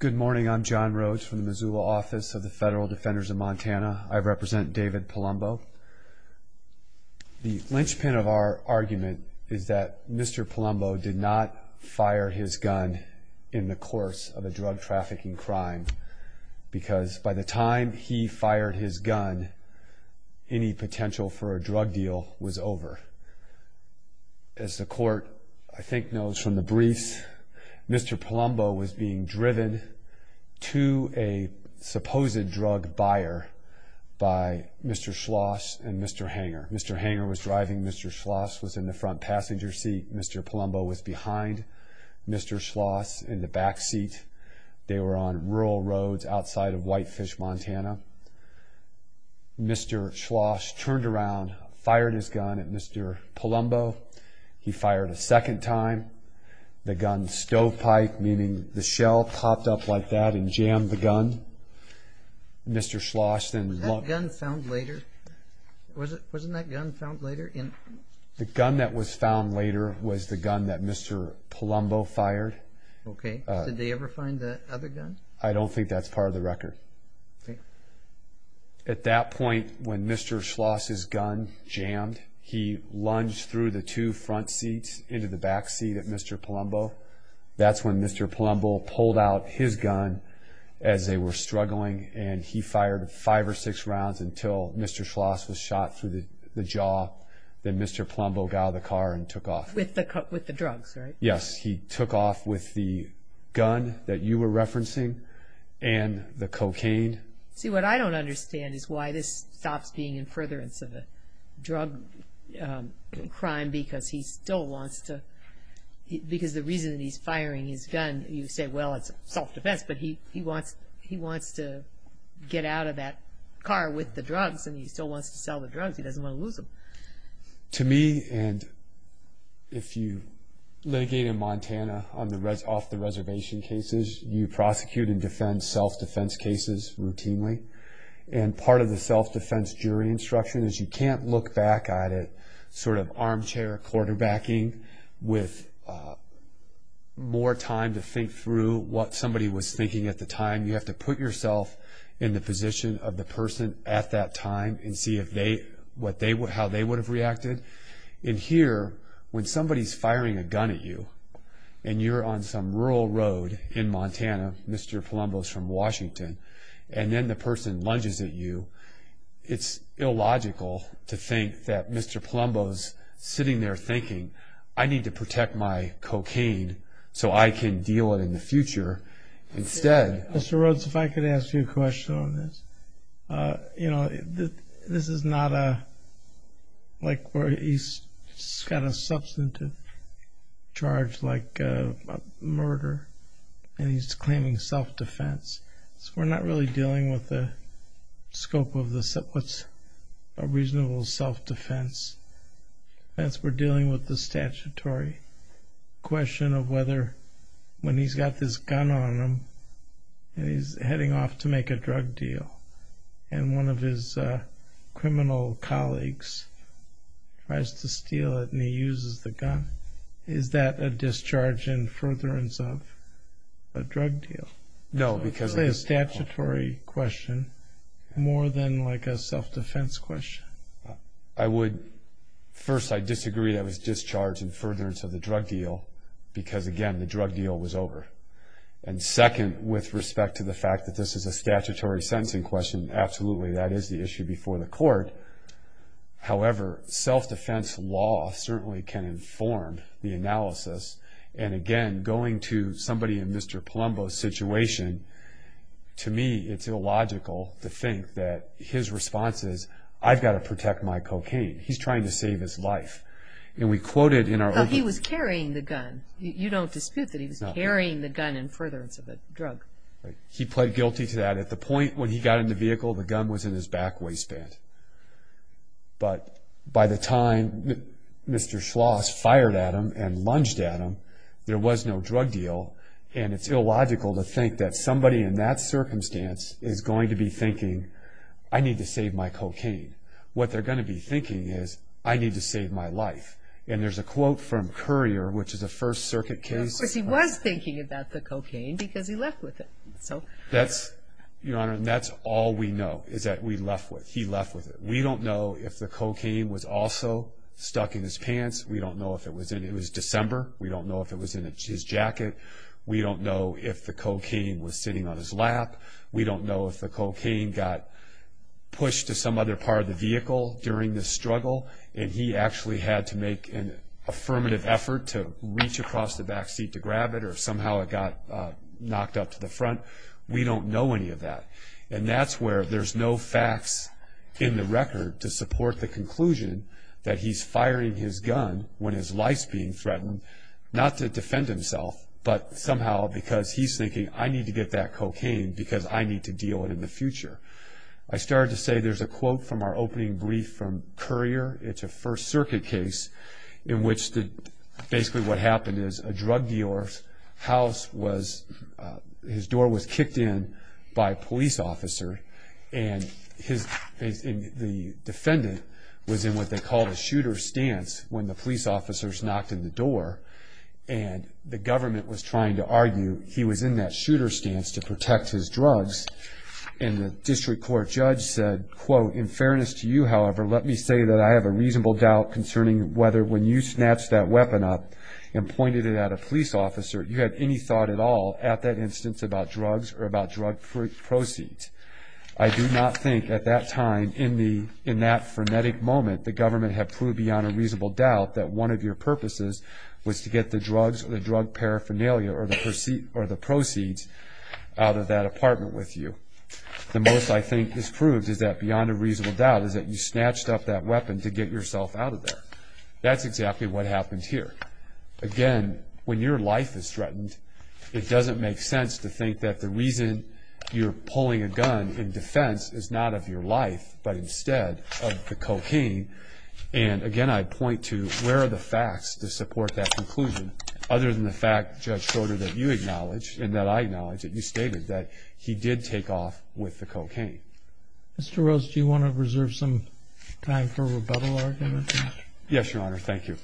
Good morning. I'm John Rhodes from the Missoula office of the Federal Defenders of Montana. I represent David Palumbo. The linchpin of our argument is that Mr. Palumbo did not fire his gun in the course of a drug trafficking crime because by the time he fired his gun, any potential for a drug deal was over. As the court, I think, knows from the briefs, Mr. Palumbo was being driven to a supposed drug buyer by Mr. Schloss and Mr. Hanger. Mr. Hanger was driving. Mr. Schloss was in the front passenger seat. Mr. Palumbo was behind Mr. Schloss in the back seat. They were on rural roads outside of Whitefish, Montana. Mr. Schloss turned around, fired his gun at Mr. Palumbo. He fired a second time. The gun stovepipe, meaning the shell, popped up like that and jammed the gun. Was that gun found later? The gun that was found later was the gun that Mr. Palumbo fired. Did they ever find the other gun? I don't think that's part of the record. At that point, when Mr. Schloss' gun jammed, he lunged through the two front seats into the back seat at Mr. Palumbo. That's when Mr. Palumbo pulled out his gun as they were struggling. He fired five or six rounds until Mr. Schloss was shot through the jaw. Then Mr. Palumbo got out of the car and took off. With the drugs, right? Yes, he took off with the gun that you were referencing and the cocaine. See, what I don't understand is why this stops being in furtherance of a drug crime, because the reason he's firing his gun, you say, well, it's self-defense, but he wants to get out of that car with the drugs and he still wants to sell the drugs. He doesn't want to lose them. To me, and if you litigate in Montana off the reservation cases, you prosecute and defend self-defense cases routinely. Part of the self-defense jury instruction is you can't look back at it sort of armchair quarterbacking with more time to think through what somebody was thinking at the time. You have to put yourself in the position of the person at that time and see how they would have reacted. Here, when somebody's firing a gun at you and you're on some rural road in Montana, Mr. Palumbo's from Washington, and then the person lunges at you, it's illogical to think that Mr. Palumbo's sitting there thinking, I need to protect my cocaine so I can deal with it in the future. Mr. Rhodes, if I could ask you a question on this. This is not like where he's got a substantive charge like murder and he's claiming self-defense. We're not really dealing with the scope of what's a reasonable self-defense. We're dealing with the statutory question of whether when he's got this gun on him and he's heading off to make a drug deal, and one of his criminal colleagues tries to steal it and he uses the gun. Is that a discharge in furtherance of a drug deal? No. It's a statutory question more than like a self-defense question. First, I disagree that it was discharge in furtherance of the drug deal because, again, the drug deal was over. And second, with respect to the fact that this is a statutory sentencing question, absolutely, that is the issue before the court. However, self-defense law certainly can inform the analysis, and again, going to somebody in Mr. Palumbo's situation, to me it's illogical to think that his response is, I've got to protect my cocaine. He's trying to save his life. He was carrying the gun. You don't dispute that he was carrying the gun in furtherance of a drug. He pled guilty to that. At the point when he got in the vehicle, the gun was in his back waistband. But by the time Mr. Schloss fired at him and lunged at him, there was no drug deal, and it's illogical to think that somebody in that circumstance is going to be thinking, I need to save my cocaine. What they're going to be thinking is, I need to save my life. And there's a quote from Currier, which is a First Circuit case. Of course, he was thinking about the cocaine because he left with it. Your Honor, that's all we know, is that we left with it. He left with it. We don't know if the cocaine was also stuck in his pants. We don't know if it was in his December. We don't know if it was in his jacket. We don't know if the cocaine was sitting on his lap. We don't know if the cocaine got pushed to some other part of the vehicle during the struggle, and he actually had to make an affirmative effort to reach across the back seat to grab it, or somehow it got knocked up to the front. We don't know any of that. And that's where there's no facts in the record to support the conclusion that he's firing his gun when his life's being threatened, not to defend himself, but somehow because he's thinking, I need to get that cocaine because I need to deal with it in the future. I started to say there's a quote from our opening brief from Currier. It's a First Circuit case in which basically what happened is a drug dealer's house was, his door was kicked in by a police officer, and the defendant was in what they called a shooter's stance when the police officers knocked on the door, and the government was trying to argue he was in that shooter's stance to protect his drugs, and the district court judge said, quote, In fairness to you, however, let me say that I have a reasonable doubt concerning whether when you snatched that weapon up and pointed it at a police officer, you had any thought at all at that instance about drugs or about drug proceeds. I do not think at that time in that frenetic moment the government had proved beyond a reasonable doubt that one of your purposes was to get the drugs or the drug paraphernalia or the proceeds out of that apartment with you. The most I think this proves is that beyond a reasonable doubt is that you snatched up that weapon to get yourself out of there. That's exactly what happened here. Again, when your life is threatened, it doesn't make sense to think that the reason you're pulling a gun in defense is not of your life but instead of the cocaine, and again, I point to where are the facts to support that conclusion other than the fact, Judge Schroeder, that you acknowledge and that I acknowledge that you stated that he did take off with the cocaine. Mr. Rose, do you want to reserve some time for rebuttal arguments? Yes, Your Honor. Thank you.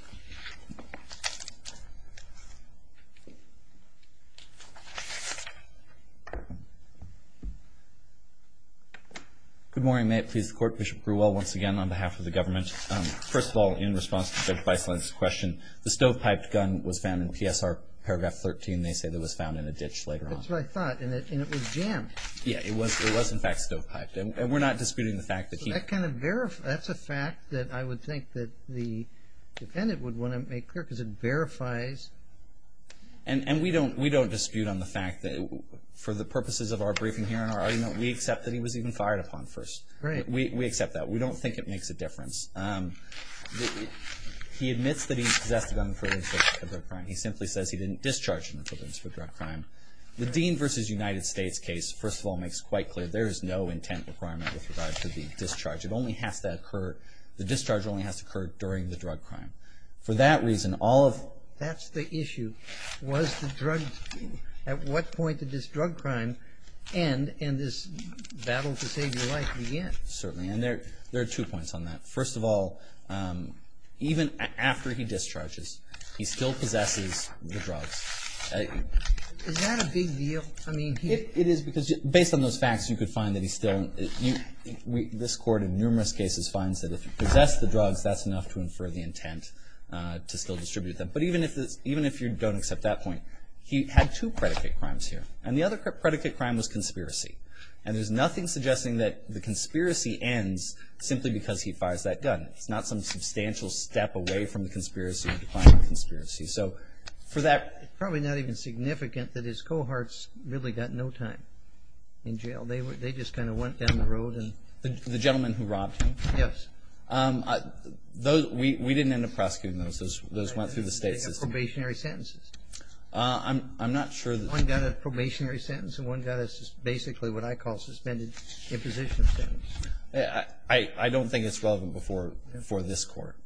Good morning. May it please the Court. Bishop Grewell once again on behalf of the government. First of all, in response to Judge Beisler's question, the stovepiped gun was found in PSR paragraph 13. They say that it was found in a ditch later on. That's what I thought, and it was jammed. Yeah, it was in fact stovepiped, and we're not disputing the fact that he That's a fact that I would think that the defendant would want to make clear because it verifies. And we don't dispute on the fact that for the purposes of our briefing here and our argument, we accept that he was even fired upon first. Right. We accept that. We don't think it makes a difference. He admits that he possessed a gun for drug crime. He simply says he didn't discharge him for drug crime. The Dean versus United States case, first of all, makes quite clear there is no intent requirement with regard to the discharge. It only has to occur, the discharge only has to occur during the drug crime. For that reason, all of That's the issue. Was the drug, at what point did this drug crime end and this battle to save your life begin? Certainly, and there are two points on that. First of all, even after he discharges, he still possesses the drugs. Is that a big deal? I mean, he It is because based on those facts, you could find that he still, this court in numerous cases finds that if he possessed the drugs, that's enough to infer the intent to still distribute them. But even if you don't accept that point, he had two predicate crimes here. And the other predicate crime was conspiracy. And there's nothing suggesting that the conspiracy ends simply because he fires that gun. It's not some substantial step away from the conspiracy, the crime of conspiracy. So for that Probably not even significant that his cohorts really got no time in jail. They just kind of went down the road and The gentleman who robbed him? Yes. Those, we didn't end up prosecuting those. Those went through the state system. They have probationary sentences. I'm not sure that One got a probationary sentence and one got a basically what I call suspended imposition sentence. I don't think it's relevant before this court,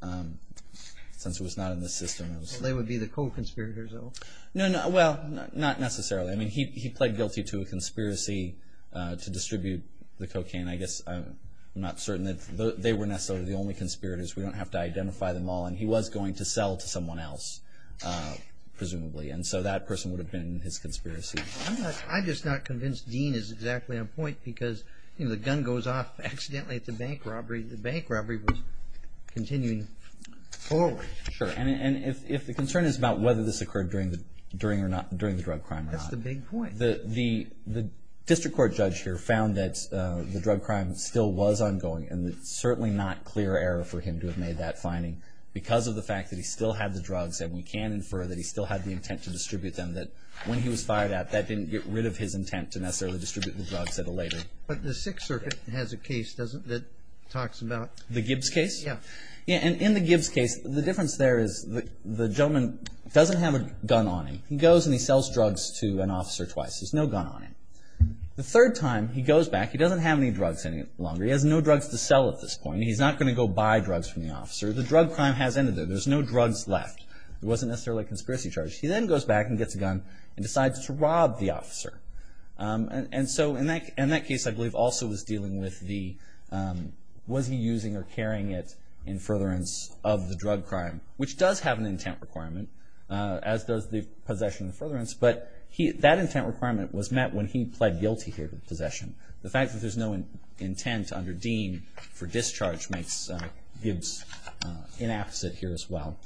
since it was not in the system. They would be the co-conspirators, though. No, well, not necessarily. I mean, he pled guilty to a conspiracy to distribute the cocaine. I guess I'm not certain that they were necessarily the only conspirators. We don't have to identify them all. And he was going to sell to someone else, presumably. And so that person would have been his conspiracy. I'm just not convinced Dean is exactly on point. Because the gun goes off accidentally at the bank robbery. The bank robbery was continuing forward. Sure. And if the concern is about whether this occurred during the drug crime or not. That's the big point. The district court judge here found that the drug crime still was ongoing. And it's certainly not clear error for him to have made that finding. Because of the fact that he still had the drugs. And we can infer that he still had the intent to distribute them. That when he was fired at, that didn't get rid of his intent to necessarily distribute the drugs at a later. But the Sixth Circuit has a case, doesn't it, that talks about The Gibbs case? Yeah. And in the Gibbs case, the difference there is the gentleman doesn't have a gun on him. He goes and he sells drugs to an officer twice. There's no gun on him. The third time, he goes back. He doesn't have any drugs any longer. He has no drugs to sell at this point. He's not going to go buy drugs from the officer. The drug crime has ended there. There's no drugs left. It wasn't necessarily a conspiracy charge. He then goes back and gets a gun and decides to rob the officer. And so in that case, I believe, also was dealing with the Was he using or carrying it in furtherance of the drug crime? Which does have an intent requirement, as does the possession in furtherance. But that intent requirement was met when he pled guilty here to possession. The fact that there's no intent under Dean for discharge makes Gibbs inapposite here as well.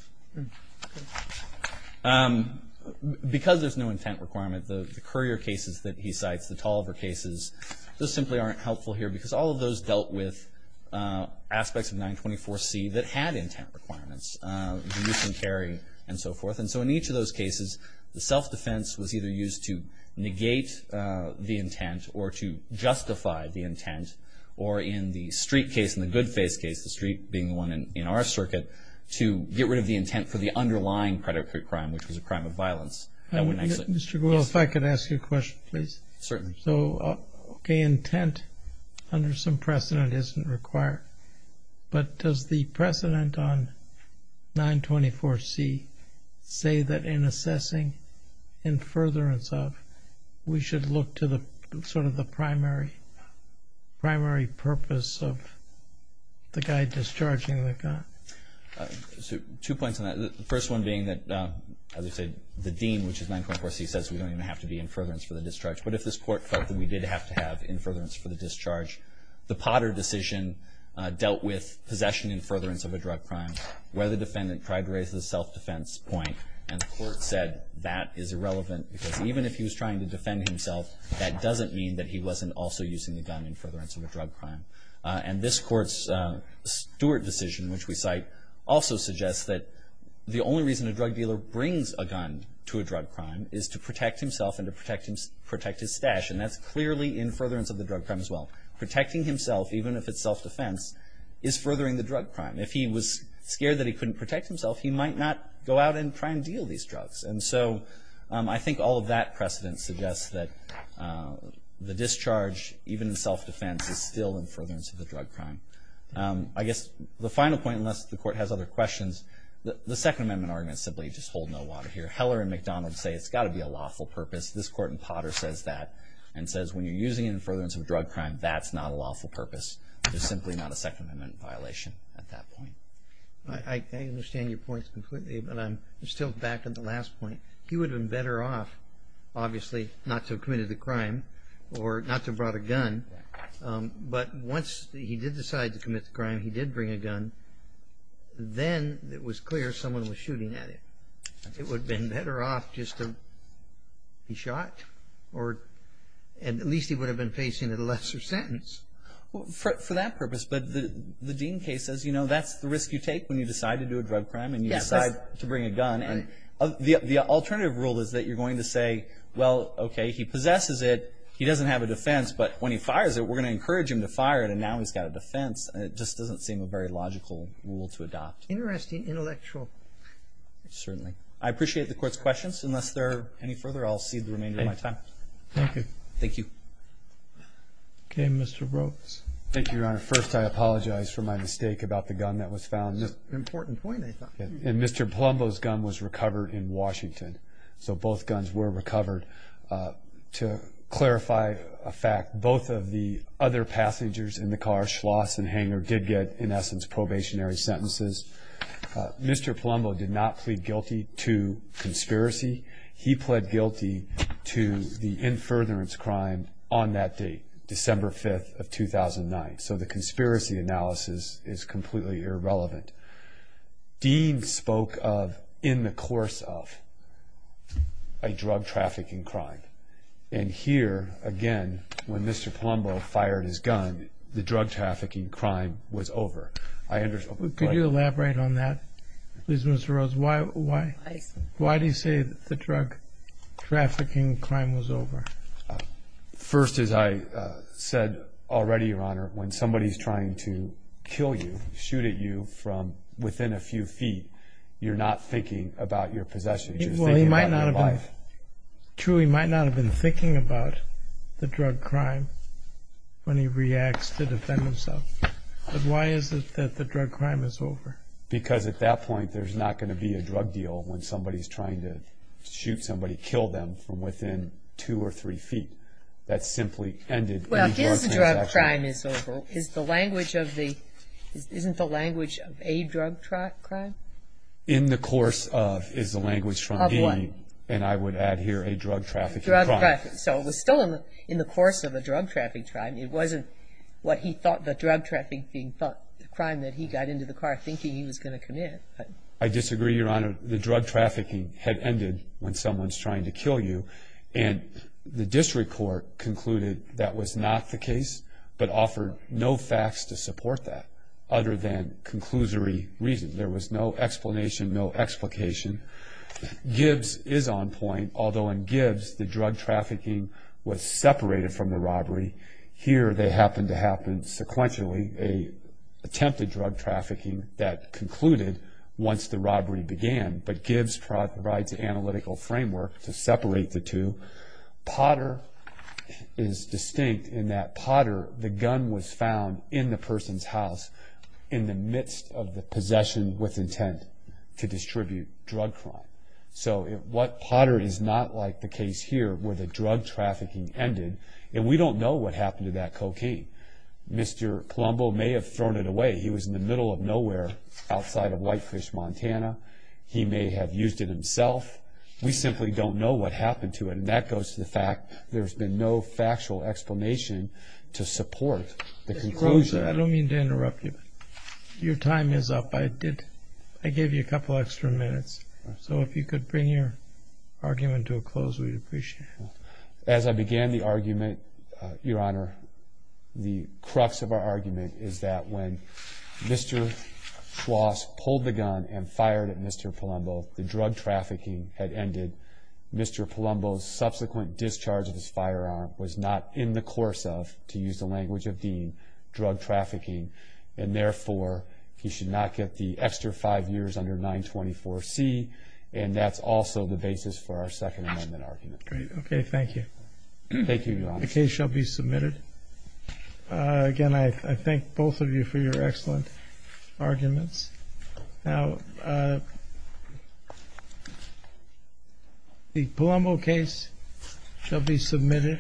Because there's no intent requirement, the courier cases that he cites, the Tolliver cases, those simply aren't helpful here because all of those dealt with aspects of 924C that had intent requirements, the use and carry and so forth. And so in each of those cases, the self-defense was either used to negate the intent or to justify the intent, or in the Street case, in the Goodface case, the Street being the one in our circuit, to get rid of the intent for the underlying predatory crime, which was a crime of violence. Mr. Gould, if I could ask you a question, please. Certainly. So, okay, intent under some precedent isn't required. But does the precedent on 924C say that in assessing in furtherance of, we should look to the sort of the primary purpose of the guy discharging the gun? Two points on that. The first one being that, as I said, the Dean, which is 924C, says we don't even have to be in furtherance for the discharge. But if this Court felt that we did have to have in furtherance for the discharge, the Potter decision dealt with possession in furtherance of a drug crime where the defendant tried to raise the self-defense point, and the Court said that is irrelevant because even if he was trying to defend himself, that doesn't mean that he wasn't also using the gun in furtherance of a drug crime. And this Court's Stewart decision, which we cite, also suggests that the only reason a drug dealer brings a gun to a drug crime is to protect himself and to protect his stash, and that's clearly in furtherance of the drug crime as well. Protecting himself, even if it's self-defense, is furthering the drug crime. If he was scared that he couldn't protect himself, he might not go out and try and deal these drugs. And so I think all of that precedent suggests that the discharge, even in self-defense, is still in furtherance of the drug crime. I guess the final point, unless the Court has other questions, the Second Amendment arguments simply just hold no water here. Heller and McDonald say it's got to be a lawful purpose. This Court in Potter says that and says when you're using it in furtherance of a drug crime, that's not a lawful purpose. There's simply not a Second Amendment violation at that point. I understand your points completely, but I'm still back on the last point. He would have been better off, obviously, not to have committed the crime or not to have brought a gun, but once he did decide to commit the crime, he did bring a gun, then it was clear someone was shooting at him. It would have been better off just to be shot, or at least he would have been facing a lesser sentence. For that purpose, but the Dean case says, you know, that's the risk you take when you decide to do a drug crime and you decide to bring a gun. The alternative rule is that you're going to say, well, okay, he possesses it, he doesn't have a defense, but when he fires it, we're going to encourage him to fire it, and now he's got a defense. It just doesn't seem a very logical rule to adopt. Interesting intellectual. Certainly. I appreciate the Court's questions. Unless there are any further, I'll cede the remainder of my time. Thank you. Thank you. Okay, Mr. Brooks. Thank you, Your Honor. First, I apologize for my mistake about the gun that was found. It's an important point, I thought. And Mr. Palumbo's gun was recovered in Washington, so both guns were recovered. To clarify a fact, both of the other passengers in the car, Schloss and Hanger, did get, in essence, probationary sentences. Mr. Palumbo did not plead guilty to conspiracy. He pled guilty to the in furtherance crime on that date, December 5th of 2009. So the conspiracy analysis is completely irrelevant. Dean spoke of, in the course of, a drug trafficking crime. And here, again, when Mr. Palumbo fired his gun, the drug trafficking crime was over. Could you elaborate on that, please, Mr. Rhodes? Why do you say the drug trafficking crime was over? First, as I said already, Your Honor, when somebody's trying to kill you, shoot at you from within a few feet, you're not thinking about your possessions. You're thinking about your life. True, he might not have been thinking about the drug crime when he reacts to defend himself. But why is it that the drug crime is over? Because at that point, there's not going to be a drug deal when somebody's trying to shoot somebody, kill them, from within two or three feet. That simply ended any drug transaction. Well, because the drug crime is over, isn't the language of a drug crime? In the course of is the language from a, and I would add here, a drug trafficking crime. So it was still in the course of a drug trafficking crime. It wasn't what he thought the drug trafficking crime that he got into the car thinking he was going to commit. I disagree, Your Honor. The drug trafficking had ended when someone's trying to kill you, and the district court concluded that was not the case but offered no facts to support that other than conclusory reasons. There was no explanation, no explication. Gibbs is on point, although in Gibbs, the drug trafficking was separated from the robbery. Here, they happened to happen sequentially. They attempted drug trafficking that concluded once the robbery began, but Gibbs provides an analytical framework to separate the two. Potter is distinct in that Potter, the gun was found in the person's house in the midst of the possession with intent to distribute drug crime. So Potter is not like the case here where the drug trafficking ended, and we don't know what happened to that cocaine. Mr. Colombo may have thrown it away. He was in the middle of nowhere outside of Whitefish, Montana. He may have used it himself. We simply don't know what happened to it, and that goes to the fact there's been no factual explanation to support the conclusion. Mr. Groza, I don't mean to interrupt you, but your time is up. I did, I gave you a couple extra minutes, so if you could bring your argument to a close, we'd appreciate it. As I began the argument, Your Honor, the crux of our argument is that when Mr. Kwas pulled the gun and fired at Mr. Colombo, the drug trafficking had ended. Mr. Colombo's subsequent discharge of his firearm was not in the course of, to use the language of Dean, drug trafficking, and therefore he should not get the extra five years under 924C, and that's also the basis for our Second Amendment argument. Great, okay, thank you. Thank you, Your Honor. The case shall be submitted. Again, I thank both of you for your excellent arguments. Now, the Colombo case shall be submitted.